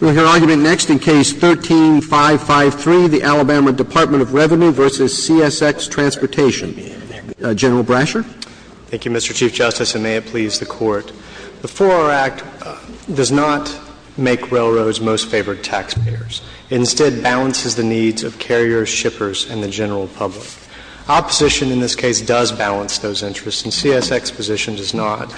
We'll hear argument next in Case 13-553, the Alabama Department of Revenue v. CSX Transportation. General Brasher. Thank you, Mr. Chief Justice, and may it please the Court. The 4-R Act does not make railroads most favored taxpayers. It instead balances the needs of carriers, shippers, and the general public. Opposition in this case does balance those interests, and CSX's position does not.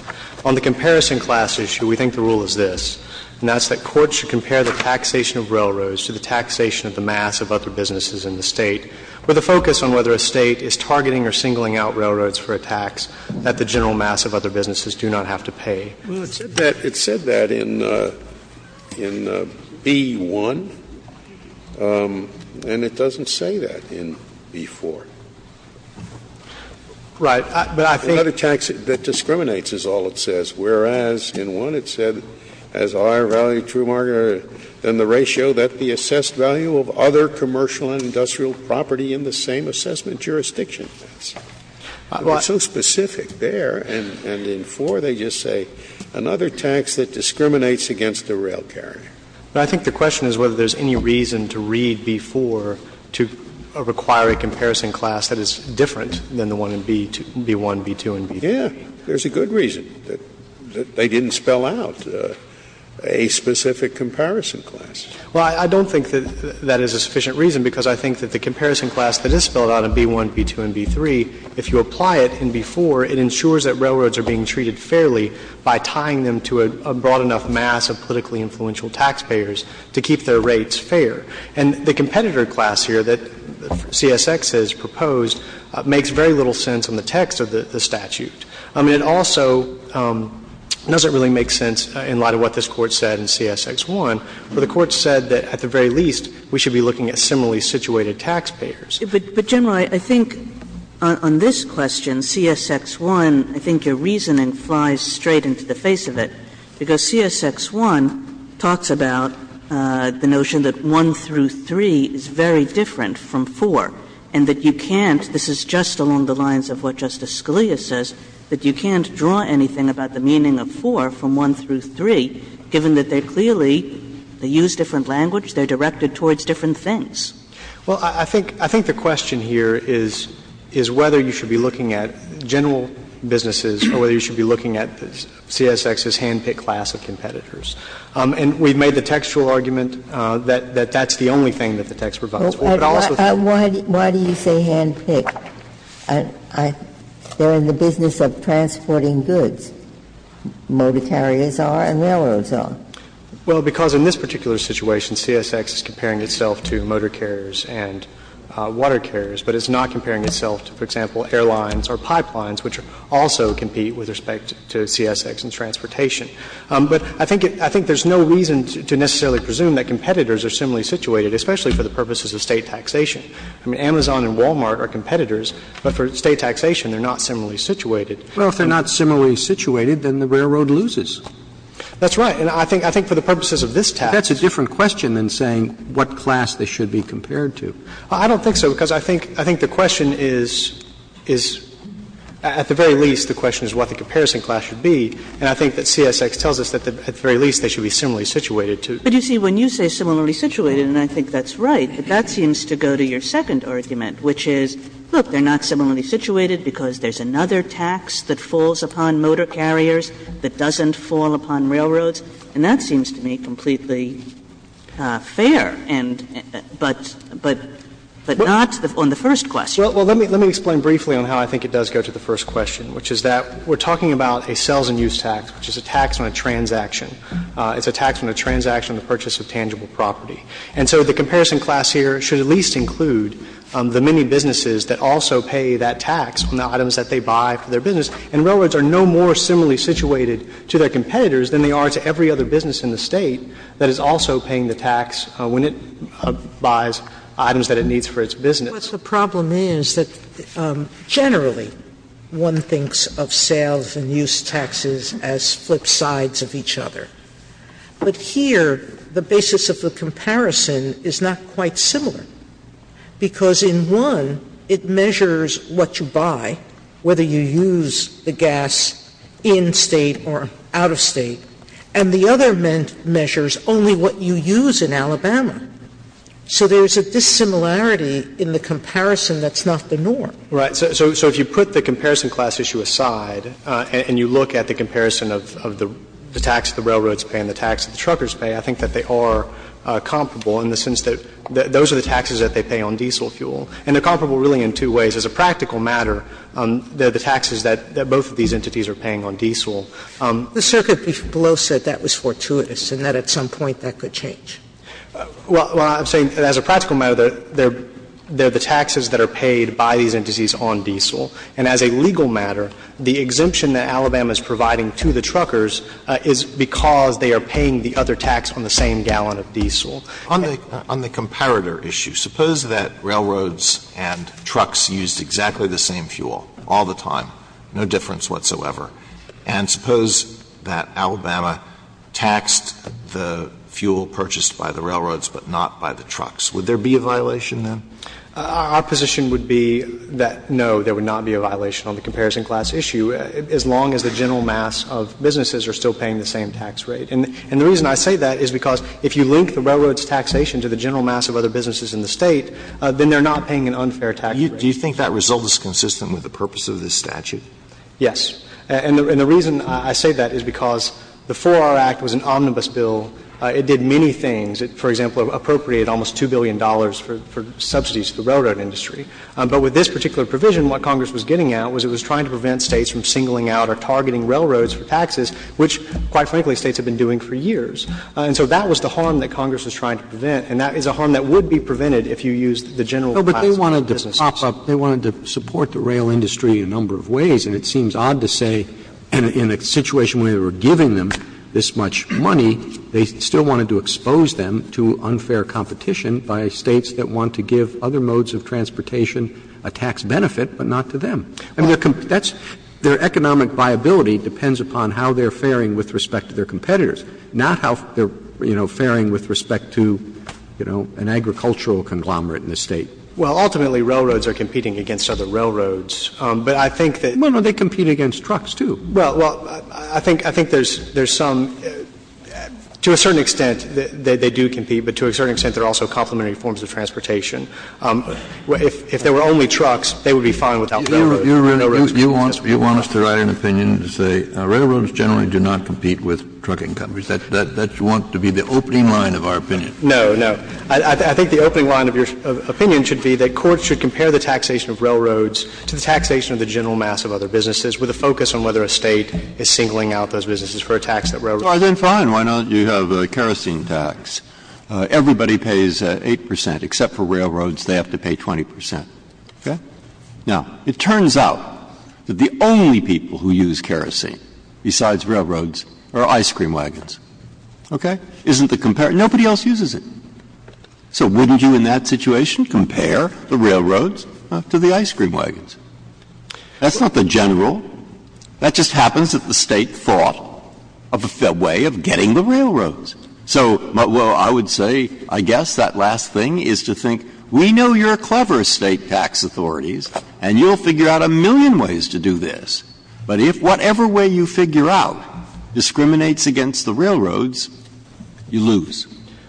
On the comparison class issue, we think the rule is this, and that's that courts should compare the taxation of railroads to the taxation of the mass of other businesses in the State, with a focus on whether a State is targeting or singling out railroads for a tax that the general mass of other businesses do not have to pay. Well, it said that in B-1, and it doesn't say that in B-4. Right, but I think the other tax that discriminates is also B-4. That's all it says, whereas, in 1, it said, as I value true marketer than the ratio that the assessed value of other commercial and industrial property in the same assessment jurisdiction is. It was so specific there, and in 4, they just say another tax that discriminates against a rail carrier. But I think the question is whether there's any reason to read B-4 to require a comparison class that is different than the one in B-1, B-2, and B-3. Yeah, there's a good reason, that they didn't spell out a specific comparison class. Well, I don't think that that is a sufficient reason, because I think that the comparison class that is spelled out in B-1, B-2, and B-3, if you apply it in B-4, it ensures that railroads are being treated fairly by tying them to a broad enough mass of politically influential taxpayers to keep their rates fair. And the competitor class here that CSX has proposed makes very little sense on the text of the statute. I mean, it also doesn't really make sense in light of what this Court said in CSX-1, where the Court said that at the very least we should be looking at similarly situated taxpayers. But, General, I think on this question, CSX-1, I think your reasoning flies straight into the face of it, because CSX-1 talks about the notion that 1 through 3 is very different from 4, and that you can't – this is just along the lines of what Justice Sotomayor said, that you can't draw anything about the meaning of 4 from 1 through 3, given that they're clearly – they use different language, they're directed towards different things. Well, I think the question here is whether you should be looking at general businesses or whether you should be looking at CSX's hand-picked class of competitors. And we've made the textual argument that that's the only thing that the text provides of transporting goods, motor carriers are and railroads are. Well, because in this particular situation, CSX is comparing itself to motor carriers and water carriers, but it's not comparing itself to, for example, airlines or pipelines, which also compete with respect to CSX and transportation. But I think it – I think there's no reason to necessarily presume that competitors are similarly situated, especially for the purposes of State taxation. I mean, Amazon and Wal-Mart are competitors, but for State taxation they're not similarly situated. Well, if they're not similarly situated, then the railroad loses. That's right. And I think for the purposes of this text. That's a different question than saying what class they should be compared to. I don't think so, because I think the question is – is at the very least the question is what the comparison class should be, and I think that CSX tells us that at the very least they should be similarly situated to. But you see, when you say similarly situated, and I think that's right, but that seems to go to your second argument, which is, look, they're not similarly situated because there's another tax that falls upon motor carriers that doesn't fall upon railroads, and that seems to me completely fair, and – but – but not on the first question. Well, let me – let me explain briefly on how I think it does go to the first question, which is that we're talking about a sales and use tax, which is a tax on a transaction. It's a tax on a transaction on the purchase of tangible property. And so the comparison class here should at least include the many businesses that also pay that tax on the items that they buy for their business, and railroads are no more similarly situated to their competitors than they are to every other business in the State that is also paying the tax when it buys items that it needs for its business. Sotomayor, Generally, one thinks of sales and use taxes as flip sides of each other. But here, the basis of the comparison is not quite similar, because in one, it measures what you buy, whether you use the gas in-State or out-of-State, and the other measures only what you use in Alabama. So there's a dissimilarity in the comparison that's not the norm. Right. So – so if you put the comparison class issue aside and you look at the comparison of the tax that the railroads pay and the tax that the truckers pay, I think that they are comparable in the sense that those are the taxes that they pay on diesel fuel, and they're comparable really in two ways. As a practical matter, they're the taxes that both of these entities are paying on diesel. The circuit below said that was fortuitous and that at some point that could change. Well, I'm saying as a practical matter, they're the taxes that are paid by these two entities, and I'm saying as a practical matter, the exemption that Alabama is providing to the truckers is because they are paying the other tax on the same Alitoso, on the comparator issue, suppose that railroads and trucks used exactly the same fuel all the time, no difference whatsoever, and suppose that Alabama taxed the fuel purchased by the railroads but not by the trucks. Would there be a violation then? Our position would be that, no, there would not be a violation on the comparison class issue as long as the general mass of businesses are still paying the same tax rate. And the reason I say that is because if you link the railroads' taxation to the general mass of other businesses in the State, then they're not paying an unfair tax rate. Do you think that result is consistent with the purpose of this statute? Yes. And the reason I say that is because the 4R Act was an omnibus bill. It did many things. It, for example, appropriated almost $2 billion for subsidies to the railroad industry. But with this particular provision, what Congress was getting at was it was trying to prevent States from singling out or targeting railroads for taxes, which, quite frankly, States have been doing for years. And so that was the harm that Congress was trying to prevent, and that is a harm that would be prevented if you used the general class of businesses. Roberts. They wanted to prop up, they wanted to support the rail industry in a number of ways, and it seems odd to say in a situation where they were giving them this much money, they still wanted to expose them to unfair competition by States that want to give other modes of transportation a tax benefit, but not to them. I mean, their economic viability depends upon how they're faring with respect to their competitors, not how they're, you know, faring with respect to, you know, an agricultural conglomerate in the State. Well, ultimately, railroads are competing against other railroads. But I think that they compete against trucks, too. Well, I think there's some – to a certain extent, they do compete, but to a certain extent, they're also complementary forms of transportation. If there were only trucks, they would be fine without railroads. You want us to write an opinion to say railroads generally do not compete with trucking companies. That's what you want to be the opening line of our opinion. No, no. I think the opening line of your opinion should be that courts should compare the taxation of railroads to the taxation of the general mass of other businesses with a focus on whether a State is singling out those businesses for a tax that railroads don't pay. Breyer, then fine, why don't you have a kerosene tax? Everybody pays 8 percent, except for railroads, they have to pay 20 percent. Okay? Now, it turns out that the only people who use kerosene besides railroads are ice cream wagons. Okay? Isn't the comparison – nobody else uses it. So wouldn't you in that situation compare the railroads to the ice cream wagons? That's not the general. That just happens that the State thought of a way of getting the railroads. So, well, I would say, I guess, that last thing is to think, we know you're clever State tax authorities and you'll figure out a million ways to do this. But if whatever way you figure out discriminates against the railroads, you lose.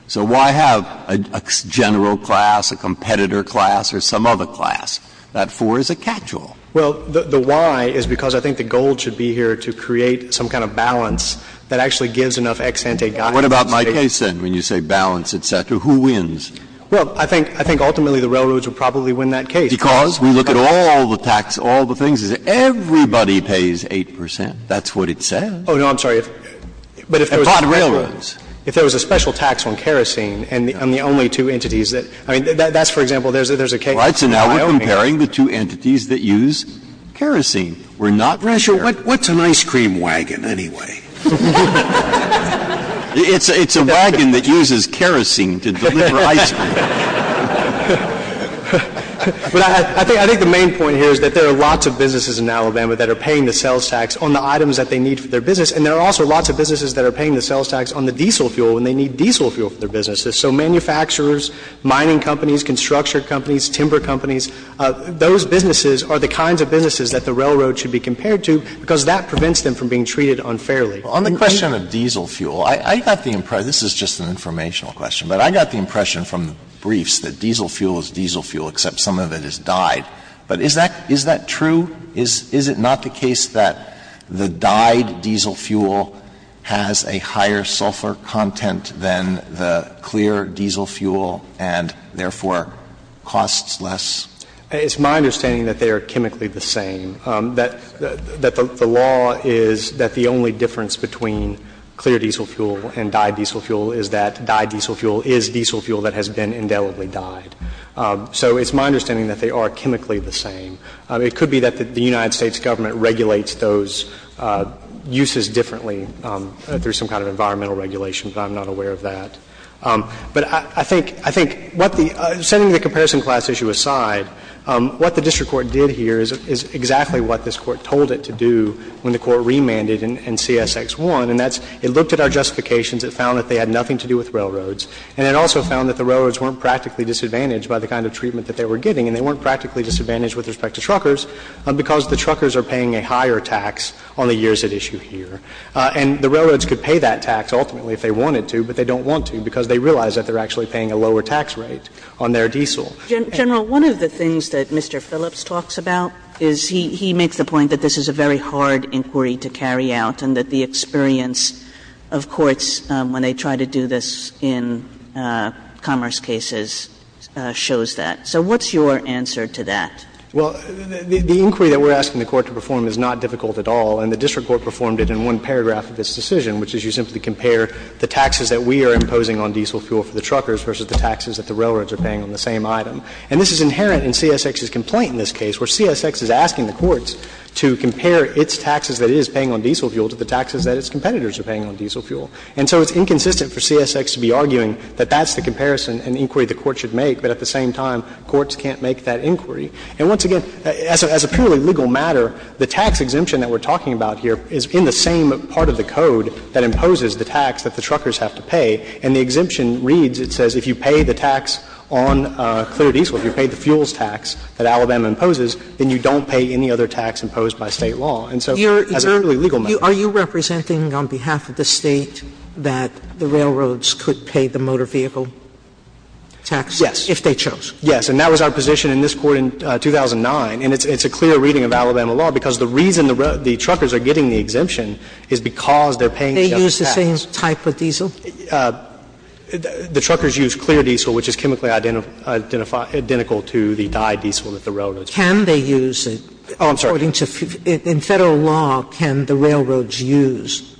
So why have a general class, a competitor class, or some other class? That, for, is a catch-all. Well, the why is because I think the goal should be here to create some kind of balance that actually gives enough ex ante guidance to the State. What about my case, then, when you say balance, et cetera, who wins? Well, I think ultimately the railroads would probably win that case. Because we look at all the tax, all the things, everybody pays 8 percent, that's what it says. Oh, no, I'm sorry. But if there was a special tax on kerosene and the only two entities that – I mean, that's, for example, there's a case. So now we're comparing the two entities that use kerosene. We're not ratio – what's an ice cream wagon, anyway? It's a wagon that uses kerosene to deliver ice cream. But I think the main point here is that there are lots of businesses in Alabama that are paying the sales tax on the items that they need for their business, and there are also lots of businesses that are paying the sales tax on the diesel fuel when they need diesel fuel for their businesses. So manufacturers, mining companies, construction companies, timber companies, those businesses are the kinds of businesses that the railroad should be compared to because that prevents them from being treated unfairly. Alito, on the question of diesel fuel, I got the impression – this is just an informational question – but I got the impression from the briefs that diesel fuel is diesel fuel except some of it is dyed. But is that true? Is it not the case that the dyed diesel fuel has a higher sulfur content than the clear diesel fuel and, therefore, costs less? It's my understanding that they are chemically the same, that the law is that the only difference between clear diesel fuel and dyed diesel fuel is that dyed diesel fuel is diesel fuel that has been indelibly dyed. So it's my understanding that they are chemically the same. It could be that the United States Government regulates those uses differently through some kind of environmental regulation, but I'm not aware of that. But I think – I think what the – setting the comparison class issue aside, what the district court did here is exactly what this Court told it to do when the Court remanded in CSX 1, and that's it looked at our justifications, it found that they had nothing to do with railroads, and it also found that the railroads weren't practically disadvantaged by the kind of treatment that they were getting, and they weren't practically disadvantaged with respect to truckers because the truckers are paying a higher tax on the years at issue here. And the railroads could pay that tax ultimately if they wanted to, but they don't want to because they realize that they're actually paying a lower tax rate on their diesel. Kagan. Kagan. General, one of the things that Mr. Phillips talks about is he – he makes the point that this is a very hard inquiry to carry out and that the experience of courts when they try to do this in commerce cases shows that. So what's your answer to that? Well, the inquiry that we're asking the Court to perform is not difficult at all, and the district court performed it in one paragraph of its decision, which is you simply compare the taxes that we are imposing on diesel fuel for the truckers versus the taxes that the railroads are paying on the same item. And this is inherent in CSX's complaint in this case, where CSX is asking the courts to compare its taxes that it is paying on diesel fuel to the taxes that its competitors are paying on diesel fuel. And so it's inconsistent for CSX to be arguing that that's the comparison and inquiry And once again, as a purely legal matter, the tax exemption that we're talking about here is in the same part of the code that imposes the tax that the truckers have to pay. And the exemption reads, it says if you pay the tax on clear diesel, if you pay the fuels tax that Alabama imposes, then you don't pay any other tax imposed by State law. And so as a purely legal matter. Are you representing on behalf of the State that the railroads could pay the motor vehicle tax? Yes. If they chose. Yes. And that was our position in this Court in 2009. And it's a clear reading of Alabama law, because the reason the truckers are getting the exemption is because they're paying the same tax. They use the same type of diesel? The truckers use clear diesel, which is chemically identical to the dyed diesel that the railroads use. Can they use it? Oh, I'm sorry. According to the Federal law, can the railroads use?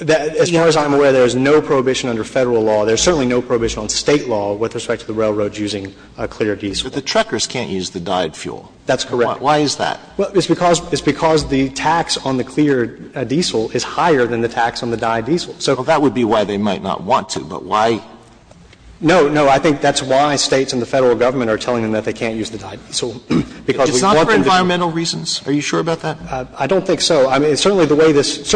As far as I'm aware, there is no prohibition under Federal law. There is certainly no prohibition on State law with respect to the railroads using clear diesel. But the truckers can't use the dyed fuel. That's correct. Why is that? Well, it's because the tax on the clear diesel is higher than the tax on the dyed diesel. So that would be why they might not want to, but why? No, no. I think that's why States and the Federal government are telling them that they can't use the dyed diesel, because we want them to. It's not for environmental reasons? Are you sure about that? I don't think so. I mean, certainly the way this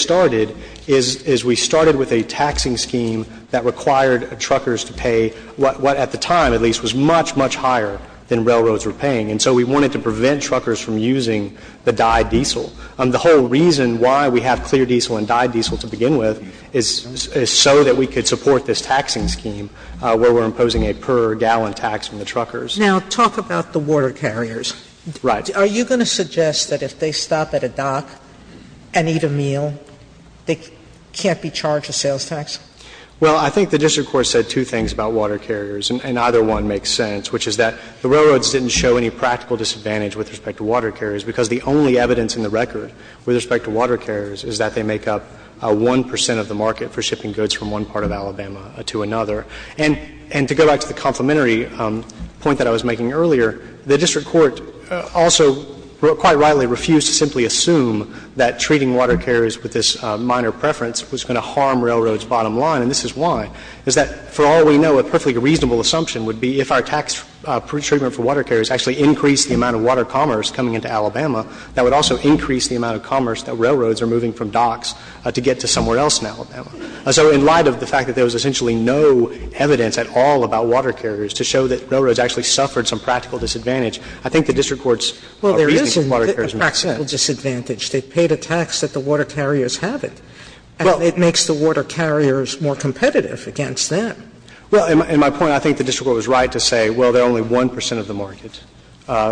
started is we started with a taxing scheme that required truckers to pay what at the time, at least, was much, much higher than railroads were paying. And so we wanted to prevent truckers from using the dyed diesel. The whole reason why we have clear diesel and dyed diesel to begin with is so that we could support this taxing scheme where we're imposing a per-gallon tax on the truckers. Now, talk about the water carriers. Right. Are you going to suggest that if they stop at a dock and eat a meal, they can't be charged a sales tax? Well, I think the district court said two things about water carriers, and either one makes sense, which is that the railroads didn't show any practical disadvantage with respect to water carriers, because the only evidence in the record with respect to water carriers is that they make up 1 percent of the market for shipping goods from one part of Alabama to another. And to go back to the complementary point that I was making earlier, the district court also quite rightly refused to simply assume that treating water carriers with this minor preference was going to harm railroads' bottom line. And this is why, is that, for all we know, a perfectly reasonable assumption would be if our tax treatment for water carriers actually increased the amount of water commerce coming into Alabama, that would also increase the amount of commerce that railroads are moving from docks to get to somewhere else in Alabama. So in light of the fact that there was essentially no evidence at all about water carriers to show that railroads actually suffered some practical disadvantage, I think the district court's reasoning of water carriers makes sense. Well, there isn't a practical disadvantage. They paid a tax that the water carriers haven't. And it makes the water carriers more competitive against them. Well, in my point, I think the district court was right to say, well, they're only 1 percent of the market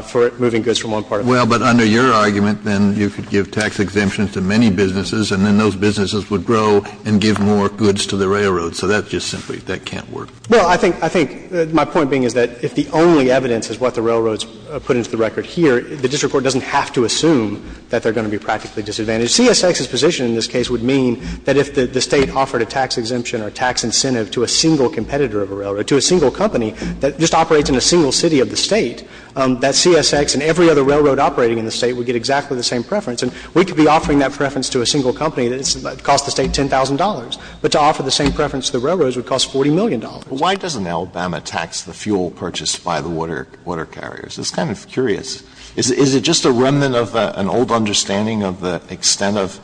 for moving goods from one part of Alabama. Well, but under your argument, then you could give tax exemptions to many businesses and then those businesses would grow and give more goods to the railroads. So that's just simply that can't work. Well, I think my point being is that if the only evidence is what the railroads put into the record here, the district court doesn't have to assume that they're going to be practically disadvantaged. CSX's position in this case would mean that if the State offered a tax exemption or a tax incentive to a single competitor of a railroad, to a single company that just operates in a single city of the State, that CSX and every other railroad operating in the State would get exactly the same preference. And we could be offering that preference to a single company that costs the State $10,000. But to offer the same preference to the railroads would cost $40 million. Alitoson Why doesn't Alabama tax the fuel purchased by the water carriers? It's kind of curious. Is it just a remnant of an old understanding of the extent of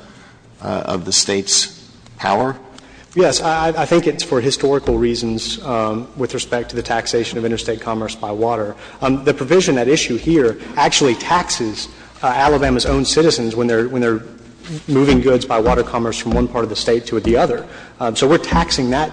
the State's power? Yes. I think it's for historical reasons with respect to the taxation of interstate commerce by water. The provision at issue here actually taxes Alabama's own citizens when they're moving goods by water commerce from one part of the State to the other. So we're taxing that,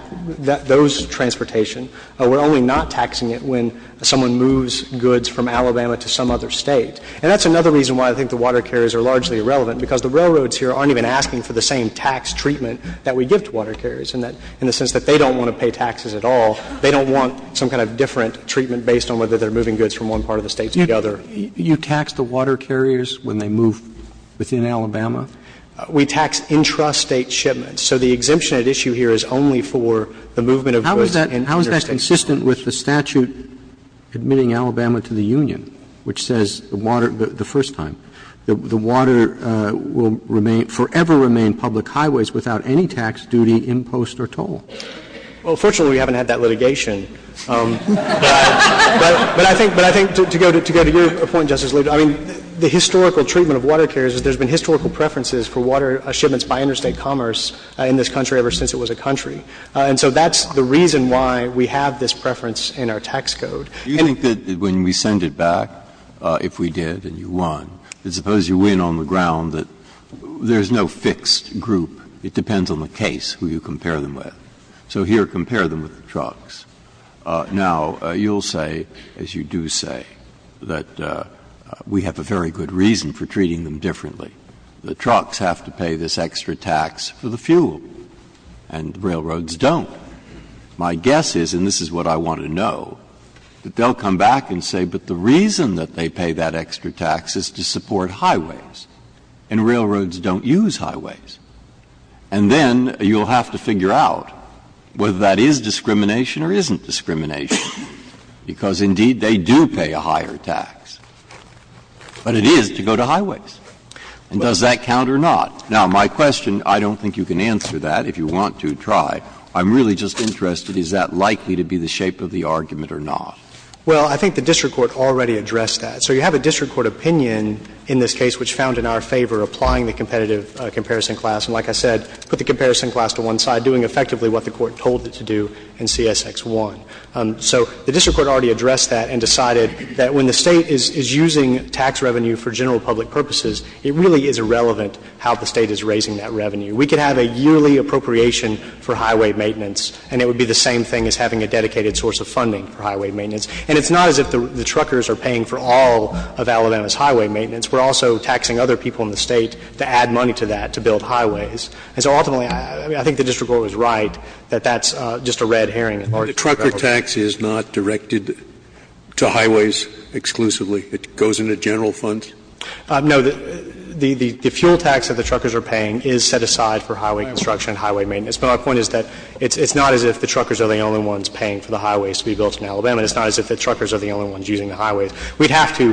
those transportation. We're only not taxing it when someone moves goods from Alabama to some other State. And that's another reason why I think the water carriers are largely irrelevant, because the railroads here aren't even asking for the same tax treatment that we give to water carriers, in the sense that they don't want to pay taxes at all. They don't want some kind of different treatment based on whether they're moving goods from one part of the State to the other. Roberts, do you tax the water carriers when they move within Alabama? We tax intrastate shipments. So the exemption at issue here is only for the movement of goods in interstate commerce. How is that consistent with the statute admitting Alabama to the Union, which says the water the first time, the water will remain, forever remain public highways without any tax, duty, impost or toll? Well, fortunately, we haven't had that litigation. But I think to go to your point, Justice Alito, I mean, the historical treatment of water carriers is there's been historical preferences for water shipments by interstate commerce in this country ever since it was a country. And so that's the reason why we have this preference in our tax code. Do you think that when we send it back, if we did and you won, that suppose you win on the ground that there's no fixed group? It depends on the case who you compare them with. So here, compare them with the trucks. Now, you'll say, as you do say, that we have a very good reason for treating them differently. The trucks have to pay this extra tax for the fuel, and the railroads don't. My guess is, and this is what I want to know, that they'll come back and say, but the reason that they pay that extra tax is to support highways, and railroads don't use highways. And then you'll have to figure out whether that is discrimination or isn't discrimination, because, indeed, they do pay a higher tax. But it is to go to highways. And does that count or not? Now, my question, I don't think you can answer that, if you want to try. I'm really just interested, is that likely to be the shape of the argument or not? Well, I think the district court already addressed that. So you have a district court opinion in this case which found in our favor applying the competitive comparison class, and like I said, put the comparison class to one side, doing effectively what the court told it to do in CSX1. So the district court already addressed that and decided that when the State is using tax revenue for general public purposes, it really is irrelevant how the State is raising that revenue. We could have a yearly appropriation for highway maintenance, and it would be the same thing as having a dedicated source of funding for highway maintenance. And it's not as if the truckers are paying for all of Alabama's highway maintenance. We're also taxing other people in the State to add money to that to build highways. And so ultimately, I think the district court was right that that's just a red herring in large part of our favor. But the trucker tax is not directed to highways exclusively. It goes into general funds? No. The fuel tax that the truckers are paying is set aside for highway construction and highway maintenance. But my point is that it's not as if the truckers are the only ones paying for the highways to be built in Alabama. It's not as if the truckers are the only ones using the highways. We'd have to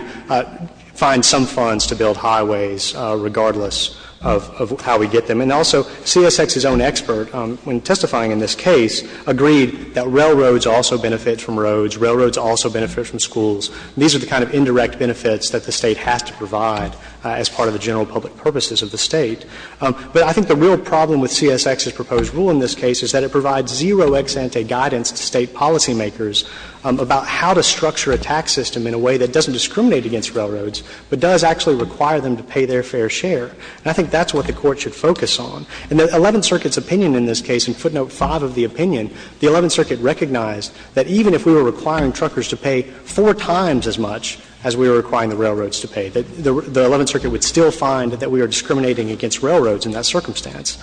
find some funds to build highways regardless of how we get them. And also, CSX's own expert, when testifying in this case, agreed that railroads also benefit from roads, railroads also benefit from schools. These are the kind of indirect benefits that the State has to provide as part of the general public purposes of the State. But I think the real problem with CSX's proposed rule in this case is that it provides zero ex-ante guidance to State policymakers about how to structure a tax system in a way that doesn't discriminate against railroads, but does actually require them to pay their fair share. And I think that's what the Court should focus on. In the Eleventh Circuit's opinion in this case, in footnote 5 of the opinion, the Eleventh Circuit recognized that even if we were requiring truckers to pay four times as much as we were requiring the railroads to pay, the Eleventh Circuit would still find that we are discriminating against railroads in that circumstance.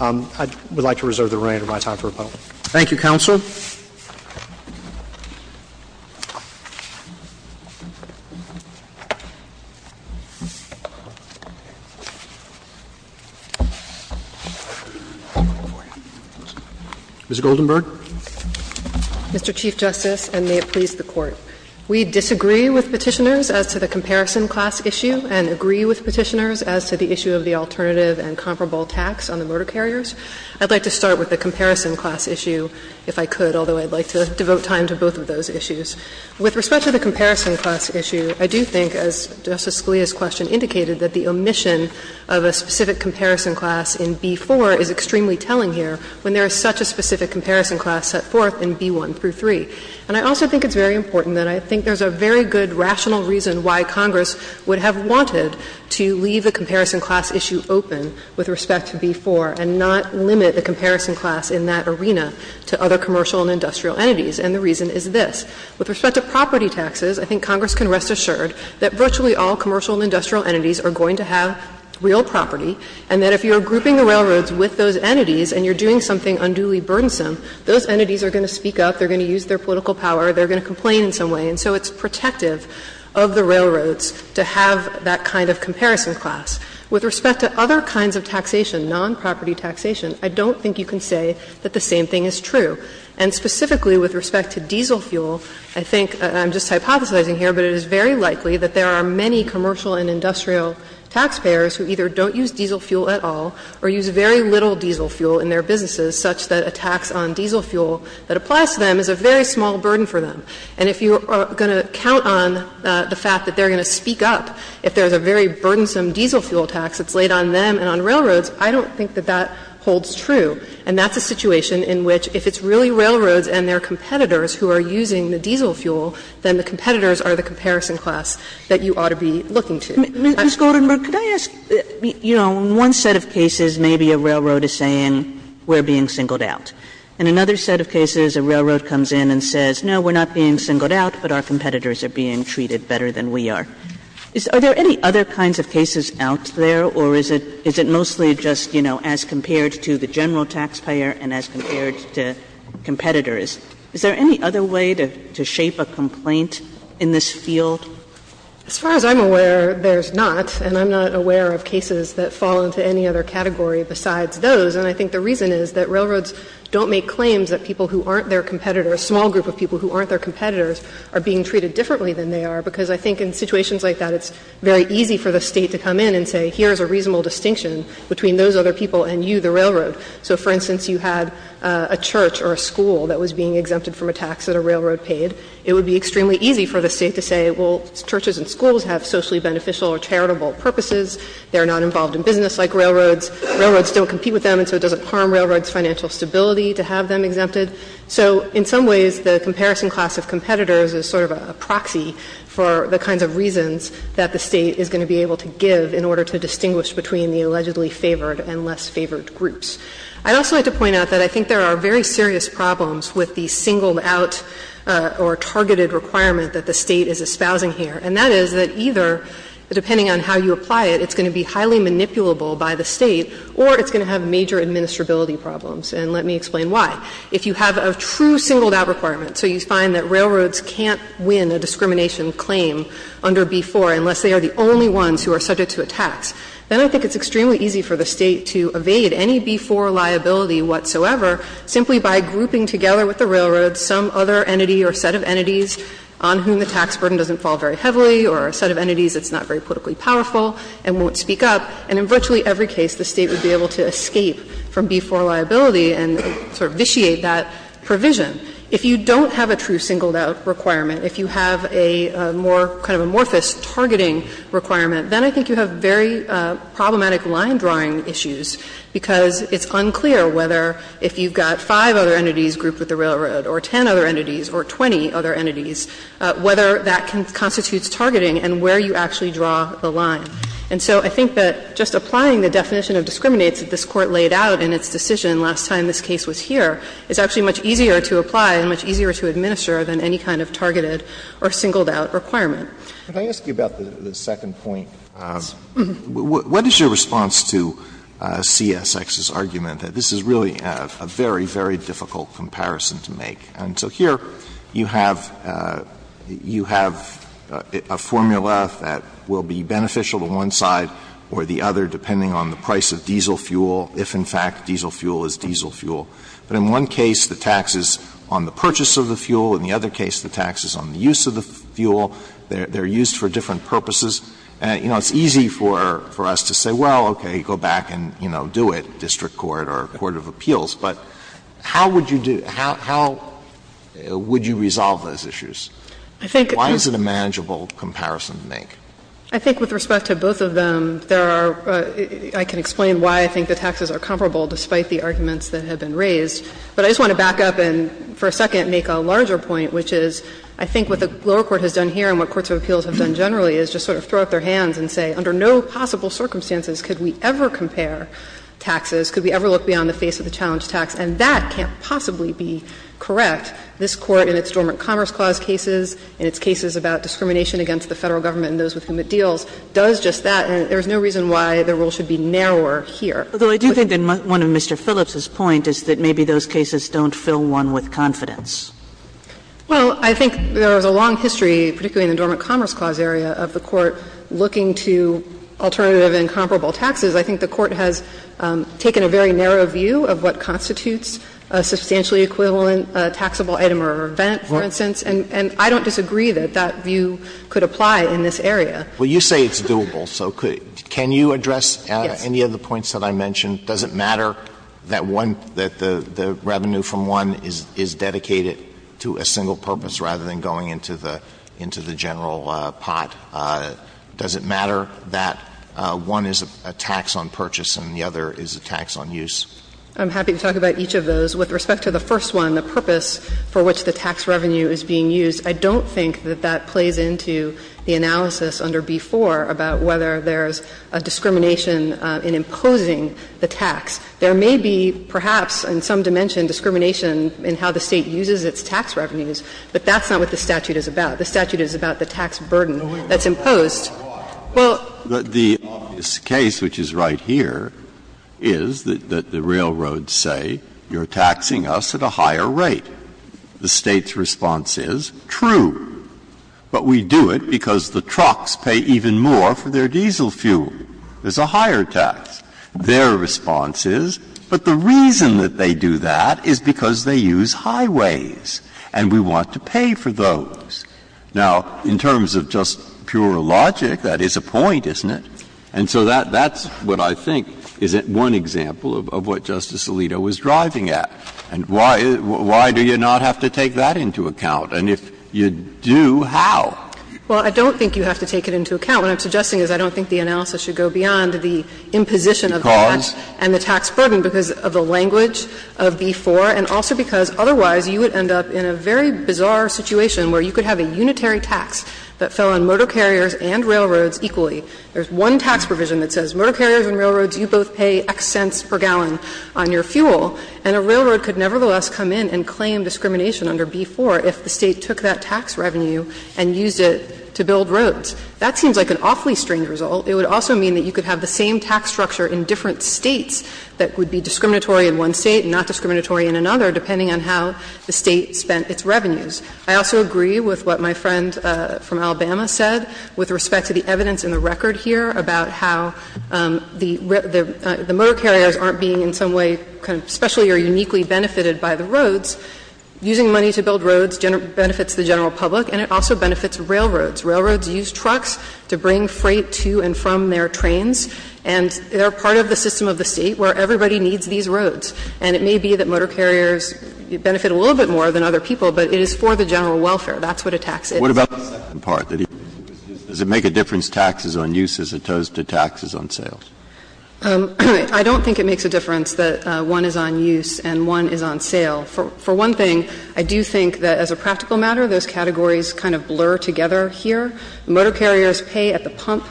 I would like to reserve the remainder of my time for rebuttal. Roberts. Thank you, counsel. Ms. Goldenberg. Mr. Chief Justice, and may it please the Court. We disagree with Petitioners as to the comparison class issue and agree with Petitioners as to the issue of the alternative and comparable tax on the motor carriers. I'd like to start with the comparison class issue, if I could, although I'd like to devote time to both of those issues. With respect to the comparison class issue, I do think, as Justice Scalia's question indicated, that the omission of a specific comparison class in B-4 is extremely telling here when there is such a specific comparison class set forth in B-1 through 3. And I also think it's very important that I think there's a very good rational reason why Congress would have wanted to leave the comparison class issue open with respect to B-4 and not limit the comparison class in that arena to other commercial and industrial entities, and the reason is this. With respect to property taxes, I think Congress can rest assured that virtually all commercial and industrial entities are going to have real property, and that if you're grouping the railroads with those entities and you're doing something unduly burdensome, those entities are going to speak up, they're going to use their ability of the railroads to have that kind of comparison class. With respect to other kinds of taxation, nonproperty taxation, I don't think you can say that the same thing is true. And specifically with respect to diesel fuel, I think, and I'm just hypothesizing here, but it is very likely that there are many commercial and industrial taxpayers who either don't use diesel fuel at all or use very little diesel fuel in their businesses, such that a tax on diesel fuel that applies to them is a very small burden for them. And if you are going to count on the fact that they're going to speak up if there's a very burdensome diesel fuel tax that's laid on them and on railroads, I don't think that that holds true. And that's a situation in which if it's really railroads and their competitors who are using the diesel fuel, then the competitors are the comparison class that you ought to be looking to. I'm sorry. Sotomayor, could I ask, you know, in one set of cases, maybe a railroad is saying we're being singled out. In another set of cases, a railroad comes in and says, no, we're not being singled out, but our competitors are being treated better than we are. Are there any other kinds of cases out there, or is it mostly just, you know, as compared to the general taxpayer and as compared to competitors? Is there any other way to shape a complaint in this field? As far as I'm aware, there's not, and I'm not aware of cases that fall into any other category besides those. And I think the reason is that railroads don't make claims that people who aren't their competitors, a small group of people who aren't their competitors, are being treated differently than they are, because I think in situations like that, it's very easy for the State to come in and say, here's a reasonable distinction between those other people and you, the railroad. So, for instance, you had a church or a school that was being exempted from a tax that a railroad paid. It would be extremely easy for the State to say, well, churches and schools have socially beneficial or charitable purposes. They're not involved in business like railroads. Railroads don't compete with them. So it doesn't harm railroads' financial stability to have them exempted. So in some ways, the comparison class of competitors is sort of a proxy for the kinds of reasons that the State is going to be able to give in order to distinguish between the allegedly favored and less favored groups. I'd also like to point out that I think there are very serious problems with the singled out or targeted requirement that the State is espousing here, and that is that either, depending on how you apply it, it's going to be highly manipulable by the State or it's going to have major administrability problems, and let me explain why. If you have a true singled out requirement, so you find that railroads can't win a discrimination claim under B-4 unless they are the only ones who are subject to a tax, then I think it's extremely easy for the State to evade any B-4 liability whatsoever simply by grouping together with the railroad some other entity or set of entities on whom the tax burden doesn't fall very heavily or a set of entities that's not very politically powerful and won't speak up. And in virtually every case, the State would be able to escape from B-4 liability and sort of vitiate that provision. If you don't have a true singled out requirement, if you have a more kind of amorphous targeting requirement, then I think you have very problematic line drawing issues, because it's unclear whether if you've got five other entities grouped with the railroad or ten other entities or 20 other entities, whether that constitutes targeting and where you actually draw the line. And so I think that just applying the definition of discriminates that this Court laid out in its decision last time this case was here is actually much easier to apply and much easier to administer than any kind of targeted or singled out requirement. Alitoso, what is your response to CSX's argument that this is really a very, very difficult comparison to make? And so here, you have you have a formula that will be beneficial to one side or the other depending on the price of diesel fuel, if in fact diesel fuel is diesel fuel. But in one case, the tax is on the purchase of the fuel. In the other case, the tax is on the use of the fuel. They're used for different purposes. You know, it's easy for us to say, well, okay, go back and, you know, do it, district court or court of appeals. But how would you do – how would you resolve those issues? Why is it a manageable comparison to make? I think with respect to both of them, there are – I can explain why I think the taxes are comparable despite the arguments that have been raised. But I just want to back up and for a second make a larger point, which is I think what the lower court has done here and what courts of appeals have done generally is just sort of throw up their hands and say, under no possible circumstances could we ever compare taxes, could we ever look beyond the face of the challenge tax, and that can't possibly be correct. This Court in its Dormant Commerce Clause cases, in its cases about discrimination against the Federal Government and those with whom it deals, does just that, and there is no reason why the rule should be narrower here. Kagan. But I do think in one of Mr. Phillips's point is that maybe those cases don't fill one with confidence. Well, I think there is a long history, particularly in the Dormant Commerce Clause area, of the Court looking to alternative and comparable taxes. I think the Court has taken a very narrow view of what constitutes a substantially equivalent taxable item or event, for instance, and I don't disagree that that view could apply in this area. Well, you say it's doable, so could – can you address any of the points that I mentioned? Does it matter that one – that the revenue from one is dedicated to a single purpose rather than going into the – into the general pot? Does it matter that one is a tax on purchase and the other is a tax on use? I'm happy to talk about each of those. With respect to the first one, the purpose for which the tax revenue is being used, I don't think that that plays into the analysis under B-4 about whether there's a discrimination in imposing the tax. There may be, perhaps, in some dimension, discrimination in how the State uses its tax revenues, but that's not what the statute is about. The statute is about the tax burden that's imposed. Well, the obvious case, which is right here, is that the railroads say, you're taxing us at a higher rate. The State's response is, true, but we do it because the trucks pay even more for their diesel fuel. There's a higher tax. Their response is, but the reason that they do that is because they use highways. And we want to pay for those. Now, in terms of just pure logic, that is a point, isn't it? And so that's what I think is one example of what Justice Alito was driving at. And why do you not have to take that into account? And if you do, how? Well, I don't think you have to take it into account. What I'm suggesting is I don't think the analysis should go beyond the imposition of the tax and the tax burden because of the language of B-4 and also because otherwise you would end up in a very bizarre situation where you could have a unitary tax that fell on motor carriers and railroads equally. There's one tax provision that says motor carriers and railroads, you both pay X cents per gallon on your fuel, and a railroad could nevertheless come in and claim discrimination under B-4 if the State took that tax revenue and used it to build roads. That seems like an awfully strange result. It would also mean that you could have the same tax structure in different States that would be discriminatory in one State and not discriminatory in another, depending on how the State spent its revenues. I also agree with what my friend from Alabama said with respect to the evidence in the record here about how the motor carriers aren't being in some way kind of specially or uniquely benefited by the roads. Using money to build roads benefits the general public, and it also benefits railroads. Railroads use trucks to bring freight to and from their trains, and they're part of the system of the State where everybody needs these roads. And it may be that motor carriers benefit a little bit more than other people, but it is for the general welfare. That's what a tax is. Breyer, does it make a difference taxes on use as opposed to taxes on sales? I don't think it makes a difference that one is on use and one is on sale. For one thing, I do think that as a practical matter, those categories kind of blur together here. Motor carriers pay at the pump,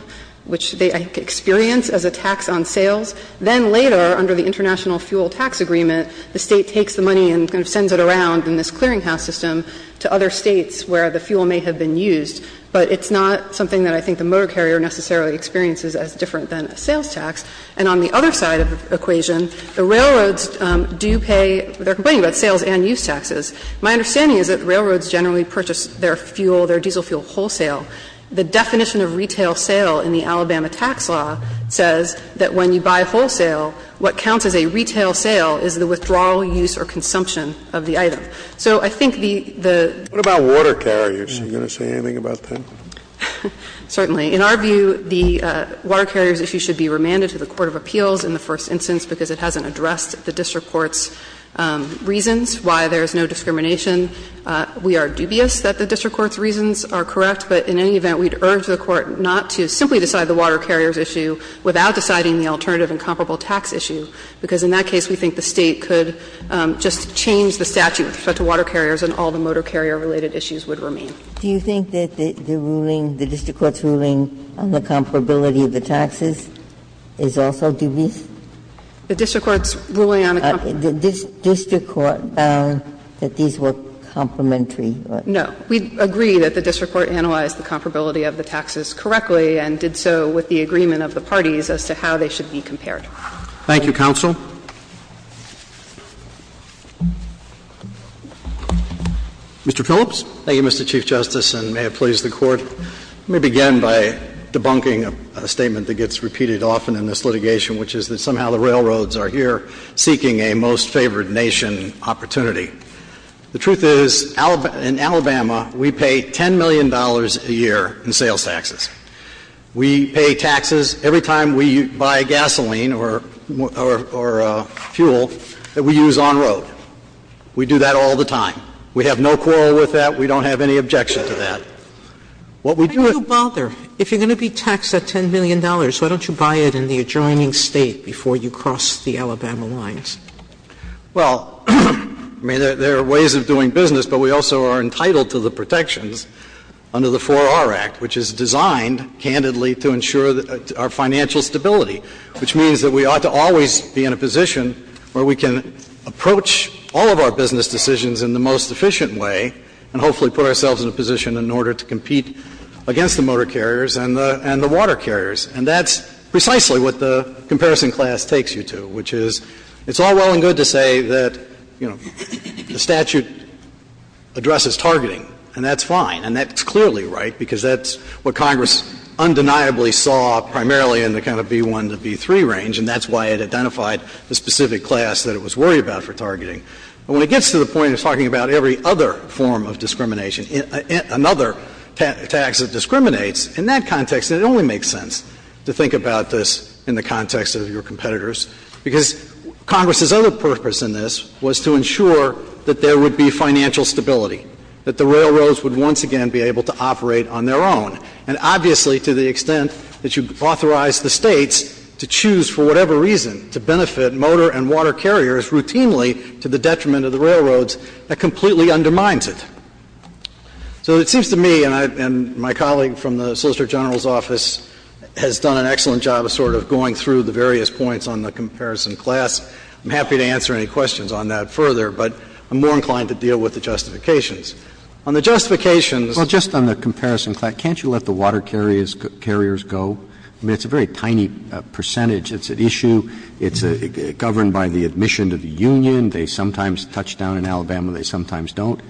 which they experience as a tax on sales. Then later, under the International Fuel Tax Agreement, the State takes the money and kind of sends it around in this clearinghouse system to other States where the fuel may have been used. But it's not something that I think the motor carrier necessarily experiences as different than a sales tax. And on the other side of the equation, the railroads do pay their company, but sales and use taxes. My understanding is that railroads generally purchase their fuel, their diesel fuel wholesale. The definition of retail sale in the Alabama tax law says that when you buy wholesale, what counts as a retail sale is the withdrawal, use or consumption of the item. So I think the the ---- What about water carriers? Are you going to say anything about that? Certainly. In our view, the water carriers issue should be remanded to the court of appeals in the first instance because it hasn't addressed the district court's reasons why there is no discrimination. We are dubious that the district court's reasons are correct, but in any event, we'd urge the court not to simply decide the water carrier's issue without deciding the alternative incomparable tax issue, because in that case we think the State could just change the statute with respect to water carriers and all the motor carrier related issues would remain. Do you think that the ruling, the district court's ruling on the comparability of the taxes is also dubious? No. We agree that the district court analyzed the comparability of the taxes correctly and did so with the agreement of the parties as to how they should be compared. Thank you, counsel. Mr. Phillips. Thank you, Mr. Chief Justice, and may it please the Court. Let me begin by debunking a statement that gets repeated often in this litigation, which is that somehow the railroads are here seeking a most favored nation opportunity. The truth is, in Alabama, we pay $10 million a year in sales taxes. We pay taxes every time we buy gasoline or fuel that we use on-road. We do that all the time. We have no quarrel with that. We don't have any objection to that. What we do at the State level is that we have no quarrel with that, we don't have any objection to that. Why don't you buy it in the adjoining State before you cross the Alabama lines? Well, I mean, there are ways of doing business, but we also are entitled to the protections under the 4R Act, which is designed, candidly, to ensure our financial stability, which means that we ought to always be in a position where we can approach all of our business decisions in the most efficient way and hopefully put ourselves in a position in order to compete against the motor carriers and the water carriers. And that's precisely what the comparison class takes you to, which is it's all well and good to say that, you know, the statute addresses targeting, and that's fine, and that's clearly right, because that's what Congress undeniably saw primarily in the kind of B-1 to B-3 range, and that's why it identified the specific class that it was worried about for targeting. But when it gets to the point of talking about every other form of discrimination and another tax that discriminates, in that context, it only makes sense to think about this in the context of your competitors, because Congress's other purpose in this was to ensure that there would be financial stability, that the railroads would once again be able to operate on their own. And obviously, to the extent that you authorize the States to choose for whatever reason to benefit motor and water carriers routinely to the detriment of the railroads, that completely undermines it. So it seems to me, and my colleague from the Solicitor General's office has done an excellent job of sort of going through the various points on the comparison class. I'm happy to answer any questions on that further, but I'm more inclined to deal with the justifications. On the justifications Roberts, just on the comparison class, can't you let the water carriers go? I mean, it's a very tiny percentage. It's an issue. It's governed by the admission to the union. They sometimes touch down in Alabama, they sometimes don't.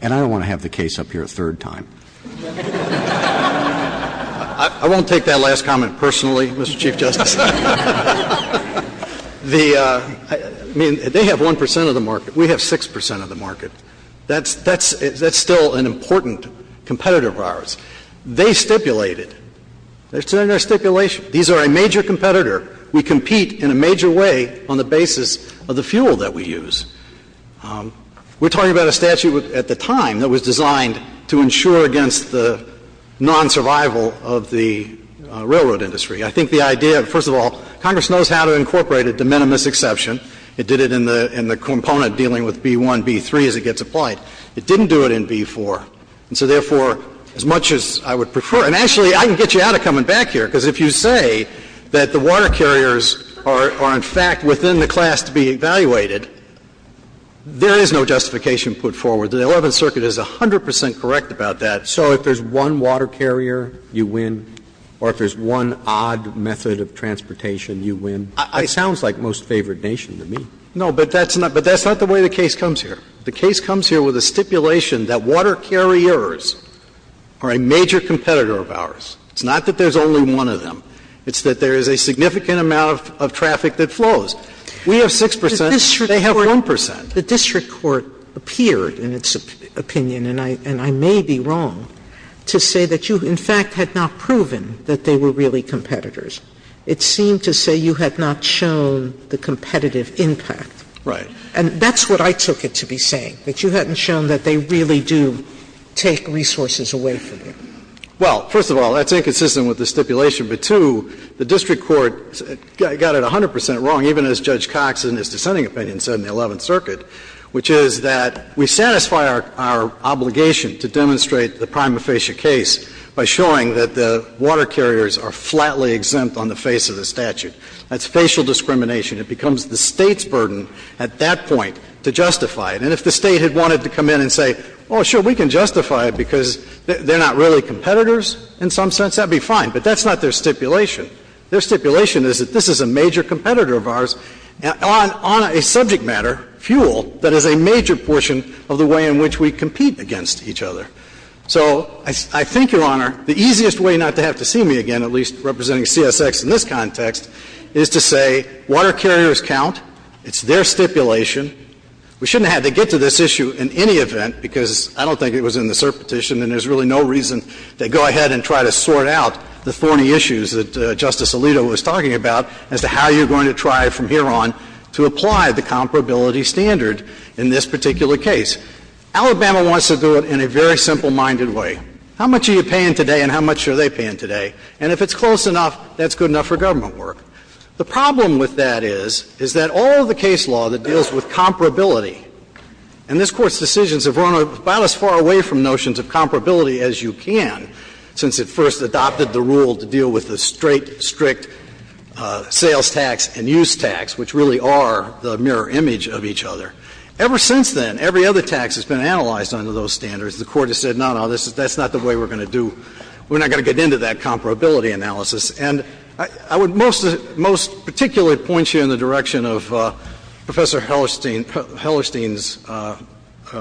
And I don't want to have the case up here a third time. I won't take that last comment personally, Mr. Chief Justice. The, I mean, they have 1 percent of the market. We have 6 percent of the market. That's still an important competitor of ours. They stipulated, it's in their stipulation, these are a major competitor. We compete in a major way on the basis of the fuel that we use. We're talking about a statute at the time that was designed to ensure against the nonsurvival of the railroad industry. I think the idea, first of all, Congress knows how to incorporate a de minimis exception. It did it in the component dealing with B-1, B-3 as it gets applied. It didn't do it in B-4. And so, therefore, as much as I would prefer, and actually I can get you out of coming back here, because if you say that the water carriers are in fact within the class to be evaluated, there is no justification put forward. The Eleventh Circuit is 100 percent correct about that. So if there's one water carrier, you win, or if there's one odd method of transportation, you win. It sounds like most favored nation to me. No, but that's not the way the case comes here. The case comes here with a stipulation that water carriers are a major competitor of ours. It's not that there's only one of them. It's that there is a significant amount of traffic that flows. We have 6 percent, they have 1 percent. Sotomayor, the district court appeared in its opinion, and I may be wrong, to say that you, in fact, had not proven that they were really competitors. It seemed to say you had not shown the competitive impact. Right. And that's what I took it to be saying, that you hadn't shown that they really do take resources away from you. Well, first of all, that's inconsistent with the stipulation. But, two, the district court got it 100 percent wrong, even as Judge Cox in his dissenting opinion said in the Eleventh Circuit, which is that we satisfy our obligation to demonstrate the prima facie case by showing that the water carriers are flatly exempt on the face of the statute. That's facial discrimination. It becomes the State's burden at that point to justify it. And if the State had wanted to come in and say, oh, sure, we can justify it because they're not really competitors in some sense, that would be fine. But that's not their stipulation. Their stipulation is that this is a major competitor of ours on a subject matter, fuel, that is a major portion of the way in which we compete against each other. So I think, Your Honor, the easiest way not to have to see me again, at least representing CSX in this context, is to say water carriers count. It's their stipulation. We shouldn't have to get to this issue in any event, because I don't think it was in the cert petition, and there's really no reason to go ahead and try to sort out the thorny issues that Justice Alito was talking about as to how you're going to try from here on to apply the comparability standard in this particular case. Alabama wants to do it in a very simple-minded way. How much are you paying today and how much are they paying today? And if it's close enough, that's good enough for government work. The problem with that is, is that all of the case law that deals with comparability and this Court's decisions have run about as far away from notions of comparability as you can, since it first adopted the rule to deal with the straight, strict sales tax and use tax, which really are the mirror image of each other. Ever since then, every other tax has been analyzed under those standards. The Court has said, no, no, that's not the way we're going to do – we're not going to get into that comparability analysis. And I would most – most particularly point you in the direction of Professor Hellerstein – Hellerstein's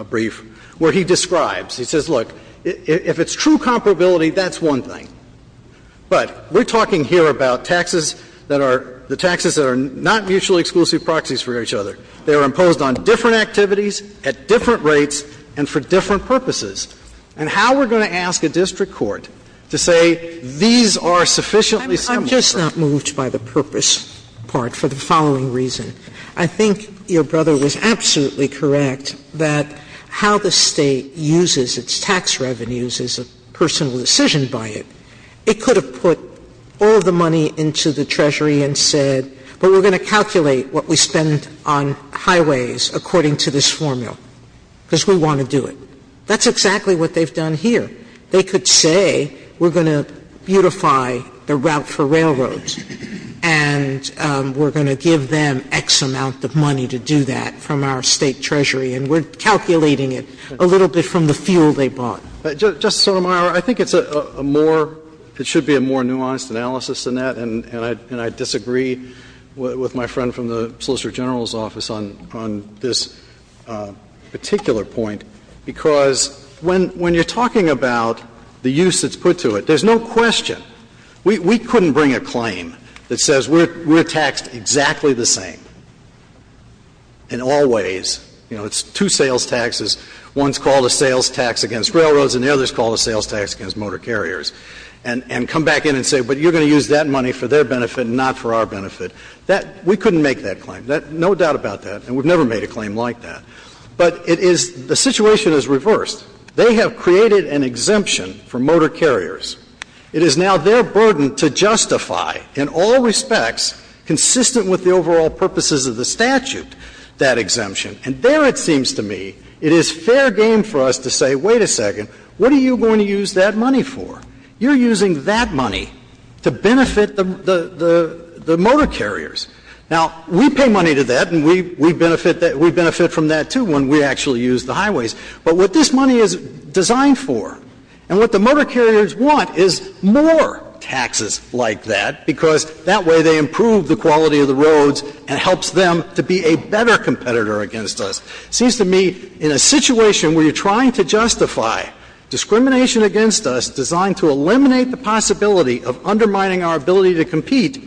brief, where he describes, he says, look, if it's true comparability, that's one thing. But we're talking here about taxes that are – the taxes that are not mutually exclusive proxies for each other. They are imposed on different activities, at different rates, and for different purposes. And how we're going to ask a district court to say these are sufficiently similar. Sotomayor I'm just not moved by the purpose part for the following reason. I think your brother was absolutely correct that how the State uses its tax revenues is a personal decision by it. It could have put all the money into the Treasury and said, well, we're going to calculate what we spend on highways according to this formula, because we want to do it. That's exactly what they've done here. They could say, we're going to beautify the route for railroads, and we're going to give them X amount of money to do that from our State treasury, and we're calculating it a little bit from the fuel they bought. Justice Sotomayor, I think it's a more – it should be a more nuanced analysis than that. And I disagree with my friend from the Solicitor General's office on this particular point, because when you're talking about the use that's put to it, there's no question that we couldn't bring a claim that says we're taxed exactly the same in all ways. You know, it's two sales taxes. One's called a sales tax against railroads, and the other's called a sales tax against motor carriers, and come back in and say, but you're going to use that money for their benefit and not for our benefit. That – we couldn't make that claim. That – no doubt about that, and we've never made a claim like that. But it is – the situation is reversed. They have created an exemption for motor carriers. It is now their burden to justify, in all respects, consistent with the overall purposes of the statute, that exemption. And there, it seems to me, it is fair game for us to say, wait a second, what are you going to use that money for? You're using that money to benefit the – the motor carriers. Now, we pay money to that, and we – we benefit that – we benefit from that, too, when we actually use the highways. But what this money is designed for, and what the motor carriers want, is more taxes like that, because that way they improve the quality of the roads and helps them to be a better competitor against us. It seems to me, in a situation where you're trying to justify discrimination against us designed to eliminate the possibility of undermining our ability to compete,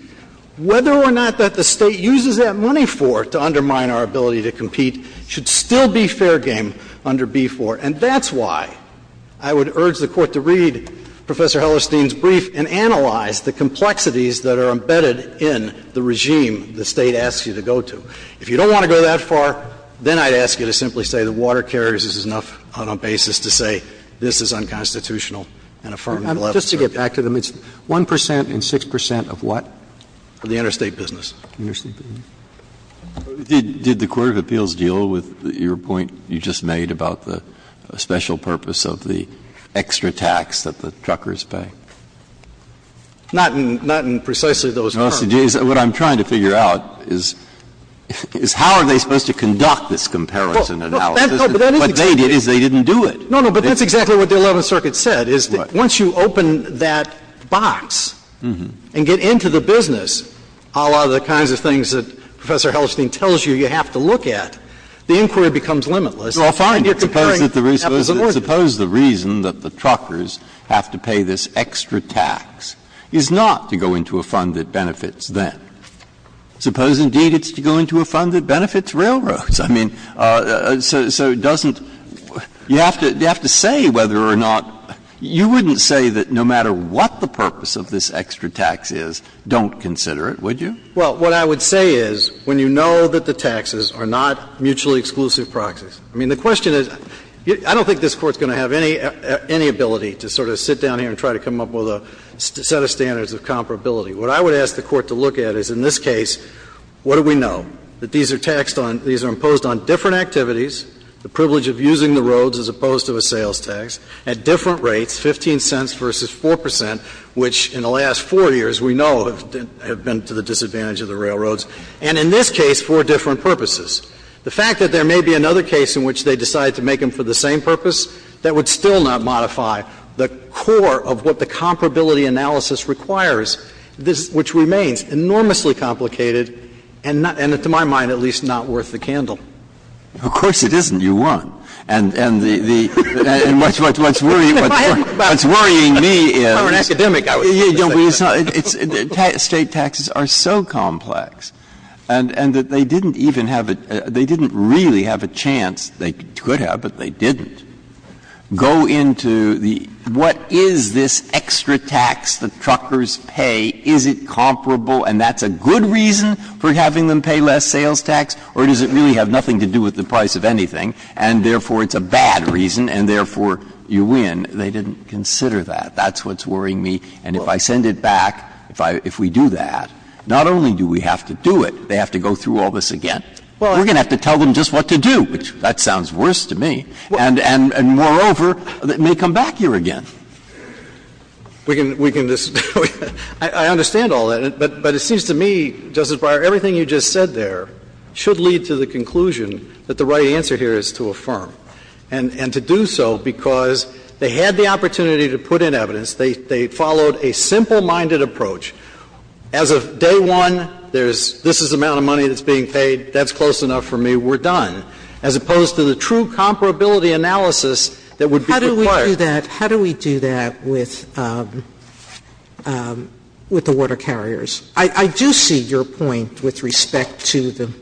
whether or not that the State uses that money for to undermine our ability to compete should still be fair game under B-4. And that's why I would urge the Court to read Professor Hellerstein's brief and analyze the complexities that are embedded in the regime the State asks you to go to. If you don't want to go that far, then I'd ask you to simply say the water carriers is enough on a basis to say this is unconstitutional and affirmative. Roberts. Just to get back to them, it's 1 percent and 6 percent of what? Of the interstate business. Interstate business. Did the Court of Appeals deal with your point you just made about the special purpose of the extra tax that the truckers pay? Not in precisely those terms. What I'm trying to figure out is how are they supposed to conduct this comparison analysis? What they did is they didn't do it. No, no, but that's exactly what the Eleventh Circuit said, is once you open that case and Professor Hellerstein tells you you have to look at, the inquiry becomes limitless. Breyer. Suppose the reason that the truckers have to pay this extra tax is not to go into a fund that benefits them. Suppose, indeed, it's to go into a fund that benefits railroads. I mean, so doesn't you have to say whether or not you wouldn't say that no matter what the purpose of this extra tax is, don't consider it, would you? Well, what I would say is when you know that the taxes are not mutually exclusive proxies. I mean, the question is, I don't think this Court is going to have any ability to sort of sit down here and try to come up with a set of standards of comparability. What I would ask the Court to look at is in this case, what do we know? That these are taxed on – these are imposed on different activities, the privilege of using the roads as opposed to a sales tax, at different rates, 15 cents versus 4 percent, which in the last four years, we know, have been to the disadvantage of the railroads, and in this case, for different purposes. The fact that there may be another case in which they decide to make them for the same purpose, that would still not modify the core of what the comparability analysis requires, which remains enormously complicated and not – and to my mind, at least, not worth the candle. Of course it isn't, you want. And the – and what's worrying me is the state taxes are so complex, and that they didn't even have a – they didn't really have a chance, they could have, but they didn't, go into the what is this extra tax the truckers pay, is it comparable and that's a good reason for having them pay less sales tax, or does it really have nothing to do with the price of anything, and therefore, it's a bad reason and therefore, you win. They didn't consider that. That's what's worrying me, and if I send it back, if I – if we do that, not only do we have to do it, they have to go through all this again. We're going to have to tell them just what to do, which that sounds worse to me, and moreover, it may come back here again. We can – we can just – I understand all that, but it seems to me, Justice Breyer, everything you just said there should lead to the conclusion that the right answer here is to affirm, and to do so because they had the opportunity to put in evidence, they followed a simple-minded approach, as of day one, there's – this is the amount of money that's being paid, that's close enough for me, we're done, as opposed to the true comparability analysis that would be required. Sotomayor How do we do that – how do we do that with the water carriers? I do see your point with respect to the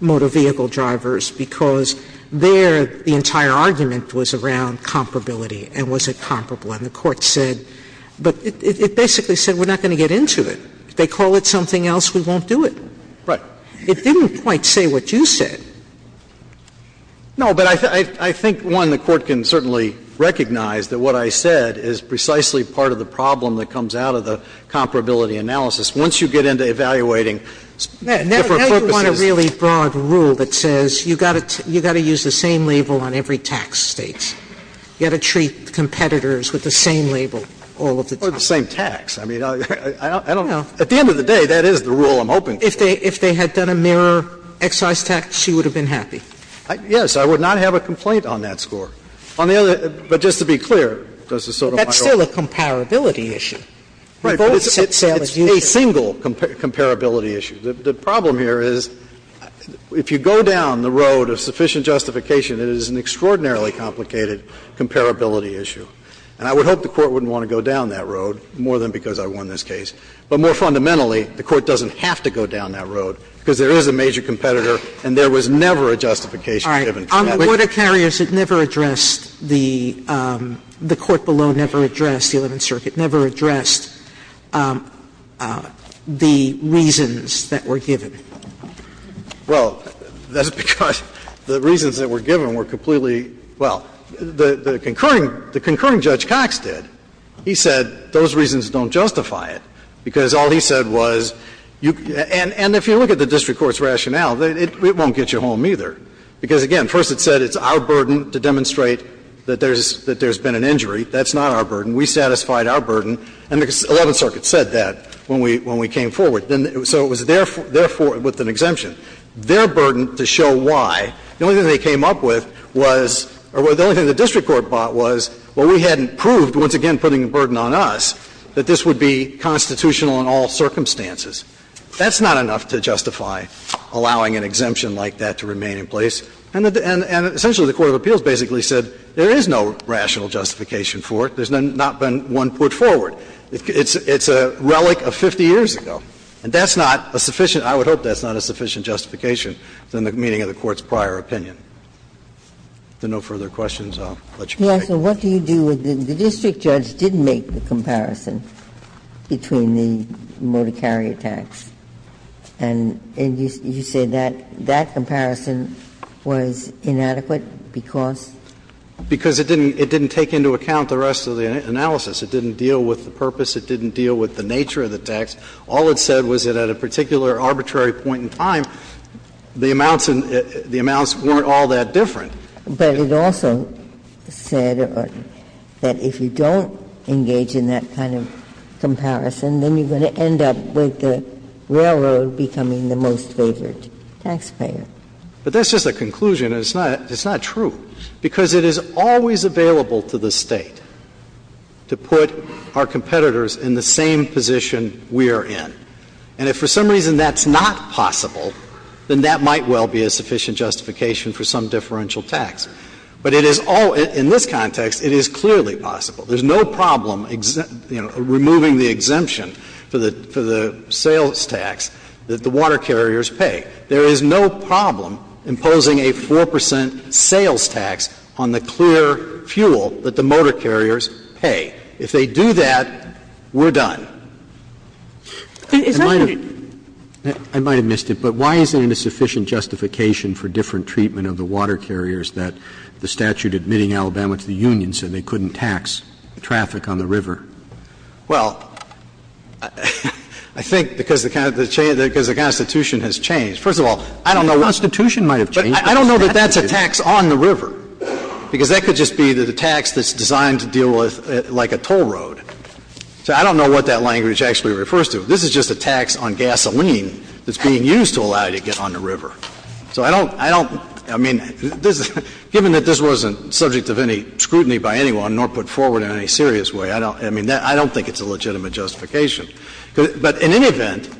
motor vehicle drivers, because there the entire argument was around comparability, and was it comparable. And the Court said – but it basically said, we're not going to get into it. If they call it something else, we won't do it. Right. It didn't quite say what you said. No, but I think, one, the Court can certainly recognize that what I said is precisely part of the problem that comes out of the comparability analysis. Once you get into evaluating different purposes – Now you want a really broad rule that says, you've got to use the same label on every tax state. You've got to treat competitors with the same label all of the time. Or the same tax. I mean, I don't – at the end of the day, that is the rule I'm hoping for. If they had done a mirror excise tax, you would have been happy. Yes. I would not have a complaint on that score. On the other – but just to be clear, Justice Sotomayor – That's still a comparability issue. Right. It's a single comparability issue. The problem here is, if you go down the road of sufficient justification, it is an extraordinarily complicated comparability issue. And I would hope the Court wouldn't want to go down that road, more than because I won this case. But more fundamentally, the Court doesn't have to go down that road, because there is a major competitor and there was never a justification given for that. Sotomayor, on the water carriers, it never addressed the – the court below never addressed the Eleventh Circuit, never addressed the reasons that were given. Well, that's because the reasons that were given were completely – well, the concurring – the concurring Judge Cox did. He said those reasons don't justify it, because all he said was you – and if you look at the district court's rationale, it won't get you home, either. Because, again, first it said it's our burden to demonstrate that there's – that there's been an injury. That's not our burden. We satisfied our burden. And the Eleventh Circuit said that when we – when we came forward. Then – so it was their – their – with an exemption. Their burden to show why, the only thing they came up with was – or the only thing the district court bought was, well, we hadn't proved, once again putting a burden on us, that this would be constitutional in all circumstances. That's not enough to justify allowing an exemption like that to remain in place. And the – and essentially the court of appeals basically said there is no rational justification for it. There's not been one put forward. It's a relic of 50 years ago. And that's not a sufficient – I would hope that's not a sufficient justification than the meaning of the court's prior opinion. If there are no further questions, I'll let you proceed. Ginsburg. He asked, well, what do you do if the district judge didn't make the comparison between the motor carrier tax, and you say that that comparison was inadequate because? Because it didn't – it didn't take into account the rest of the analysis. It didn't deal with the purpose. It didn't deal with the nature of the tax. All it said was that at a particular arbitrary point in time, the amounts weren't all that different. But it also said that if you don't engage in that kind of comparison, then you're going to end up with the railroad becoming the most favored taxpayer. But that's just a conclusion. It's not – it's not true, because it is always available to the State to put our competitors in the same position we are in. And if for some reason that's not possible, then that might well be a sufficient justification for some differential tax. But it is all – in this context, it is clearly possible. There's no problem, you know, removing the exemption for the – for the sales tax that the water carriers pay. There is no problem imposing a 4 percent sales tax on the clear fuel that the motor carriers pay. If they do that, we're done. Is that what it – I might have missed it. But why isn't it a sufficient justification for different treatment of the water carriers that the statute admitting Alabama to the Union said they couldn't tax traffic on the river? Well, I think because the Constitution has changed. First of all, I don't know what the Constitution might have changed. But I don't know that that's a tax on the river, because that could just be the tax that's designed to deal with like a toll road. So I don't know what that language actually refers to. This is just a tax on gasoline that's being used to allow you to get on the river. So I don't – I don't – I mean, given that this wasn't subject of any scrutiny by anyone nor put forward in any serious way, I don't – I mean, I don't think it's a legitimate justification. But in any event,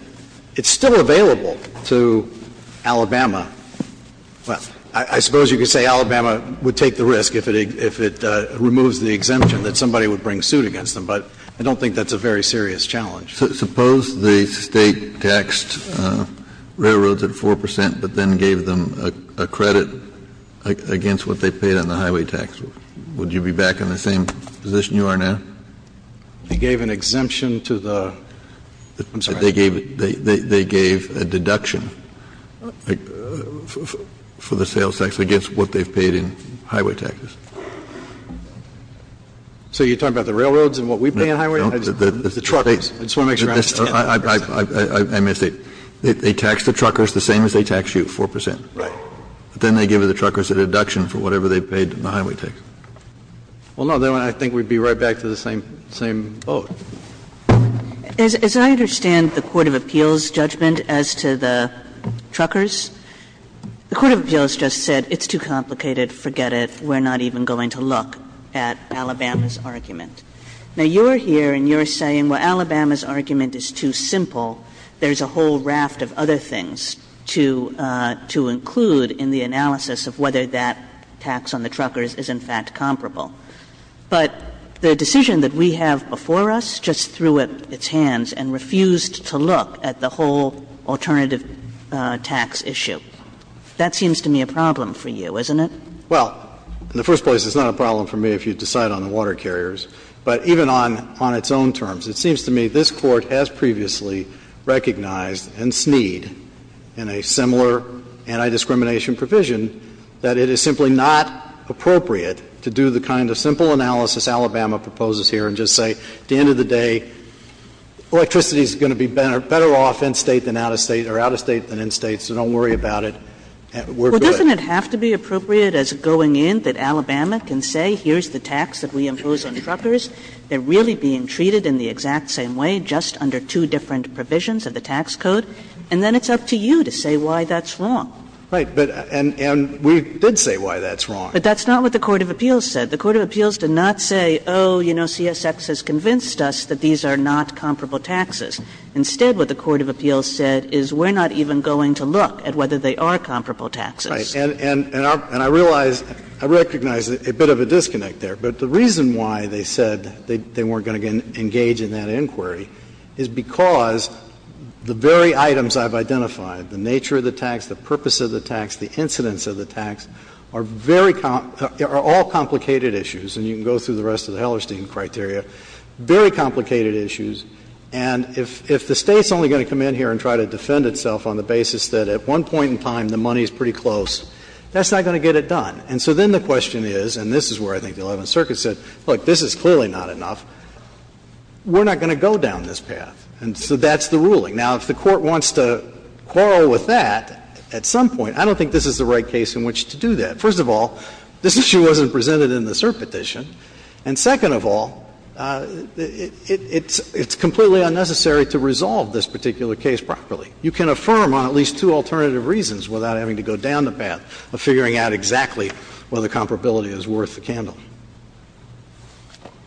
it's still available to Alabama. Well, I suppose you could say Alabama would take the risk if it removes the exemption that somebody would bring suit against them. But I don't think that's a very serious challenge. Suppose the State taxed railroads at 4 percent, but then gave them a credit against what they paid on the highway tax. Would you be back in the same position you are now? They gave an exemption to the – I'm sorry. They gave a deduction for the sales tax against what they've paid in highway taxes. So you're talking about the railroads and what we pay in highway? No, the State. I just want to make sure I understand. I missed it. They taxed the truckers the same as they taxed you, 4 percent. Right. But then they give the truckers a deduction for whatever they paid in the highway tax. Well, no, then I think we'd be right back to the same – same vote. As I understand the court of appeals' judgment as to the truckers, the court of appeals just said it's too complicated, forget it, we're not even going to look at Alabama's argument. Now, you're here and you're saying, well, Alabama's argument is too simple. There's a whole raft of other things to – to include in the analysis of whether that tax on the truckers is, in fact, comparable. But the decision that we have before us just threw its hands and refused to look at the whole alternative tax issue, that seems to me a problem for you, isn't it? Well, in the first place, it's not a problem for me if you decide on the water carriers. But even on – on its own terms, it seems to me this Court has previously recognized and sneed in a similar anti-discrimination provision that it is simply not appropriate to do the kind of simple analysis Alabama proposes here and just say, at the end of the day, electricity is going to be better off in State than out of State or out of State than in State, so don't worry about it, we're good. But doesn't it have to be appropriate as going in that Alabama can say, here's the tax that we impose on truckers, they're really being treated in the exact same way, just under two different provisions of the tax code, and then it's up to you to say why that's wrong. Right. But – and we did say why that's wrong. But that's not what the court of appeals said. The court of appeals did not say, oh, you know, CSX has convinced us that these are not comparable taxes. Instead, what the court of appeals said is we're not even going to look at whether they are comparable taxes. Right. And I realize, I recognize a bit of a disconnect there. But the reason why they said they weren't going to engage in that inquiry is because the very items I've identified, the nature of the tax, the purpose of the tax, the incidence of the tax, are very – are all complicated issues, and you can go through the rest of the Hellerstein criteria, very complicated issues, and if the State's only going to come in here and try to defend itself on the basis that at one point in time the money is pretty close, that's not going to get it done. And so then the question is, and this is where I think the Eleventh Circuit said, look, this is clearly not enough, we're not going to go down this path. And so that's the ruling. Now, if the court wants to quarrel with that at some point, I don't think this is the right case in which to do that. First of all, this issue wasn't presented in the cert petition. And second of all, it's completely unnecessary to resolve this particular case properly. You can affirm on at least two alternative reasons without having to go down the path of figuring out exactly whether comparability is worth the candle.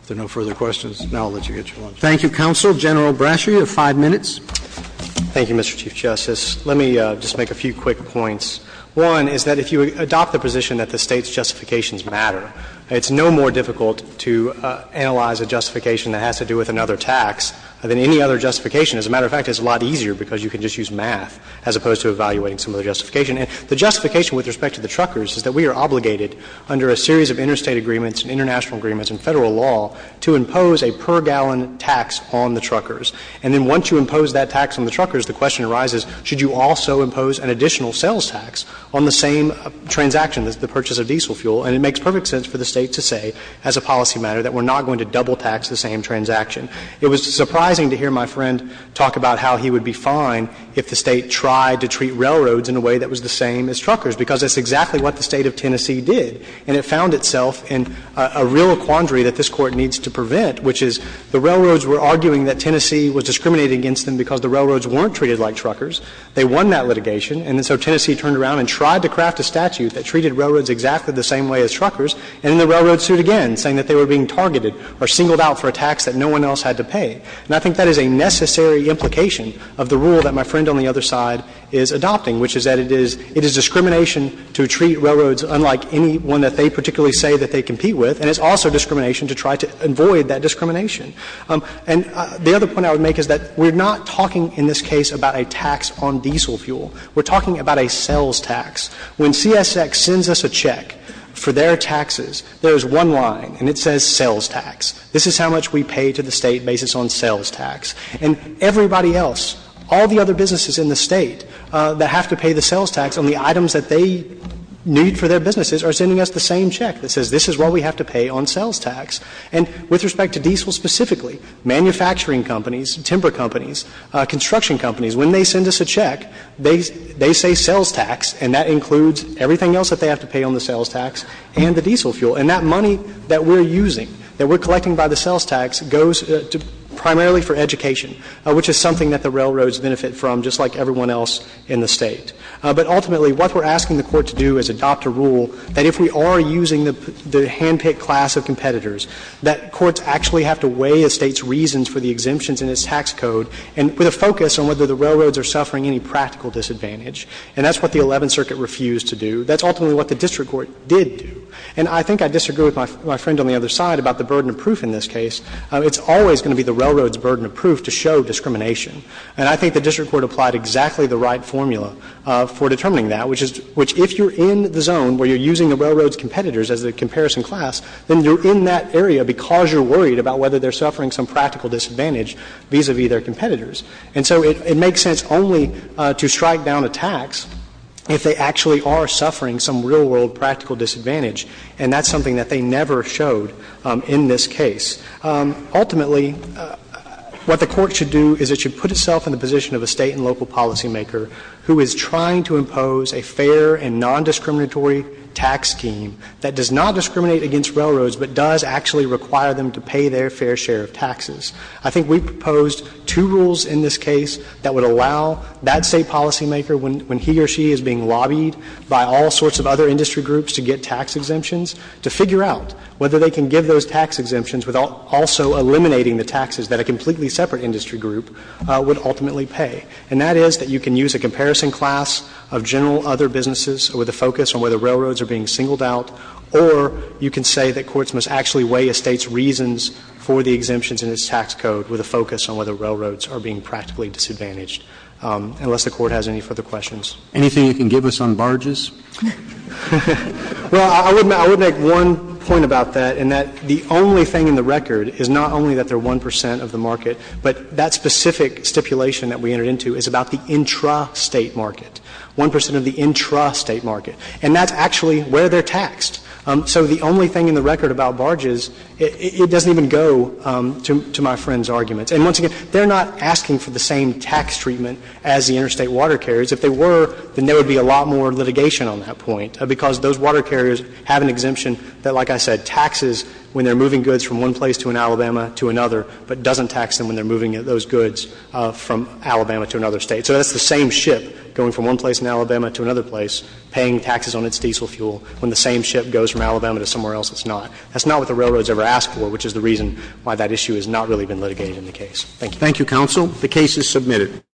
If there are no further questions, now I'll let you get your lunch. Thank you, Counsel. General Brasher, you have five minutes. Thank you, Mr. Chief Justice. Let me just make a few quick points. One is that if you adopt the position that the State's justifications matter, it's no more difficult to analyze a justification that has to do with another tax than any other justification. As a matter of fact, it's a lot easier because you can just use math as opposed to evaluating some of the justification. And the justification with respect to the truckers is that we are obligated under a series of interstate agreements and international agreements and Federal law to impose a per-gallon tax on the truckers. And then once you impose that tax on the truckers, the question arises, should you also impose an additional sales tax on the same transaction, the purchase of diesel fuel? And it makes perfect sense for the State to say as a policy matter that we're not going to double tax the same transaction. It was surprising to hear my friend talk about how he would be fine if the State tried to treat railroads in a way that was the same as truckers, because that's exactly what the State of Tennessee did. And it found itself in a real quandary that this Court needs to prevent, which is the railroads were arguing that Tennessee was discriminating against them because the railroads weren't treated like truckers. They won that litigation, and so Tennessee turned around and tried to craft a statute that treated railroads exactly the same way as truckers, and in the railroad suit, again, saying that they were being targeted or singled out for a tax that no one else had to pay. And I think that is a necessary implication of the rule that my friend on the other side is adopting, which is that it is discrimination to treat railroads unlike any one that they particularly say that they compete with, and it's also discrimination to try to avoid that discrimination. And the other point I would make is that we're not talking in this case about a tax on diesel fuel. We're talking about a sales tax. When CSX sends us a check for their taxes, there's one line and it says sales tax. This is how much we pay to the State based on sales tax. And everybody else, all the other businesses in the State that have to pay the sales tax on the items that they need for their businesses are sending us the same check that says this is what we have to pay on sales tax. And with respect to diesel specifically, manufacturing companies, timber companies, construction companies, when they send us a check, they say sales tax, and that includes everything else that they have to pay on the sales tax and the diesel fuel. And that money that we're using, that we're collecting by the sales tax, goes primarily for education, which is something that the railroads benefit from, just like everyone else in the State. But ultimately, what we're asking the Court to do is adopt a rule that if we are using the handpicked class of competitors, that courts actually have to weigh the State's reasons for the exemptions in its tax code, and with a focus on whether the railroads are suffering any practical disadvantage. And that's what the Eleventh Circuit refused to do. That's ultimately what the district court did do. And I think I disagree with my friend on the other side about the burden of proof in this case. It's always going to be the railroad's burden of proof to show discrimination. And I think the district court applied exactly the right formula for determining that, which is — which if you're in the zone where you're using the railroad's competitors as a comparison class, then you're in that area because you're worried about whether they're suffering some practical disadvantage vis-a-vis their competitors. And so it makes sense only to strike down a tax if they actually are suffering some real-world practical disadvantage, and that's something that they never showed in this case. Ultimately, what the Court should do is it should put itself in the position of a State and local policymaker who is trying to impose a fair and nondiscriminatory tax scheme that does not discriminate against railroads, but does actually require them to pay their fair share of taxes. I think we proposed two rules in this case that would allow that State policymaker, when he or she is being lobbied by all sorts of other industry groups to get tax exemptions, to figure out whether they can give those tax exemptions without also eliminating the taxes that a completely separate industry group would ultimately pay. And that is that you can use a comparison class of general other businesses with a focus on whether railroads are being singled out, or you can say that courts must actually weigh a State's reasons for the exemptions in its tax code with a focus on whether railroads are being practically disadvantaged, unless the Court has any further questions. Anything you can give us on barges? Well, I would make one point about that, in that the only thing in the record is not only that they're 1 percent of the market, but that specific stipulation that we entered into is about the intrastate market, 1 percent of the intrastate market. And that's actually where they're taxed. So the only thing in the record about barges, it doesn't even go to my friend's arguments. And once again, they're not asking for the same tax treatment as the interstate water carriers. If they were, then there would be a lot more litigation on that point, because those water carriers have an exemption that, like I said, taxes when they're moving goods from one place to an Alabama to another, but doesn't tax them when they're moving those goods from Alabama to another State. So that's the same ship going from one place in Alabama to another place, paying taxes on its diesel fuel, when the same ship goes from Alabama to somewhere else, it's not. That's not what the railroad's ever asked for, which is the reason why that issue has not really been litigated in the case. Thank you. Thank you, counsel. The case is submitted.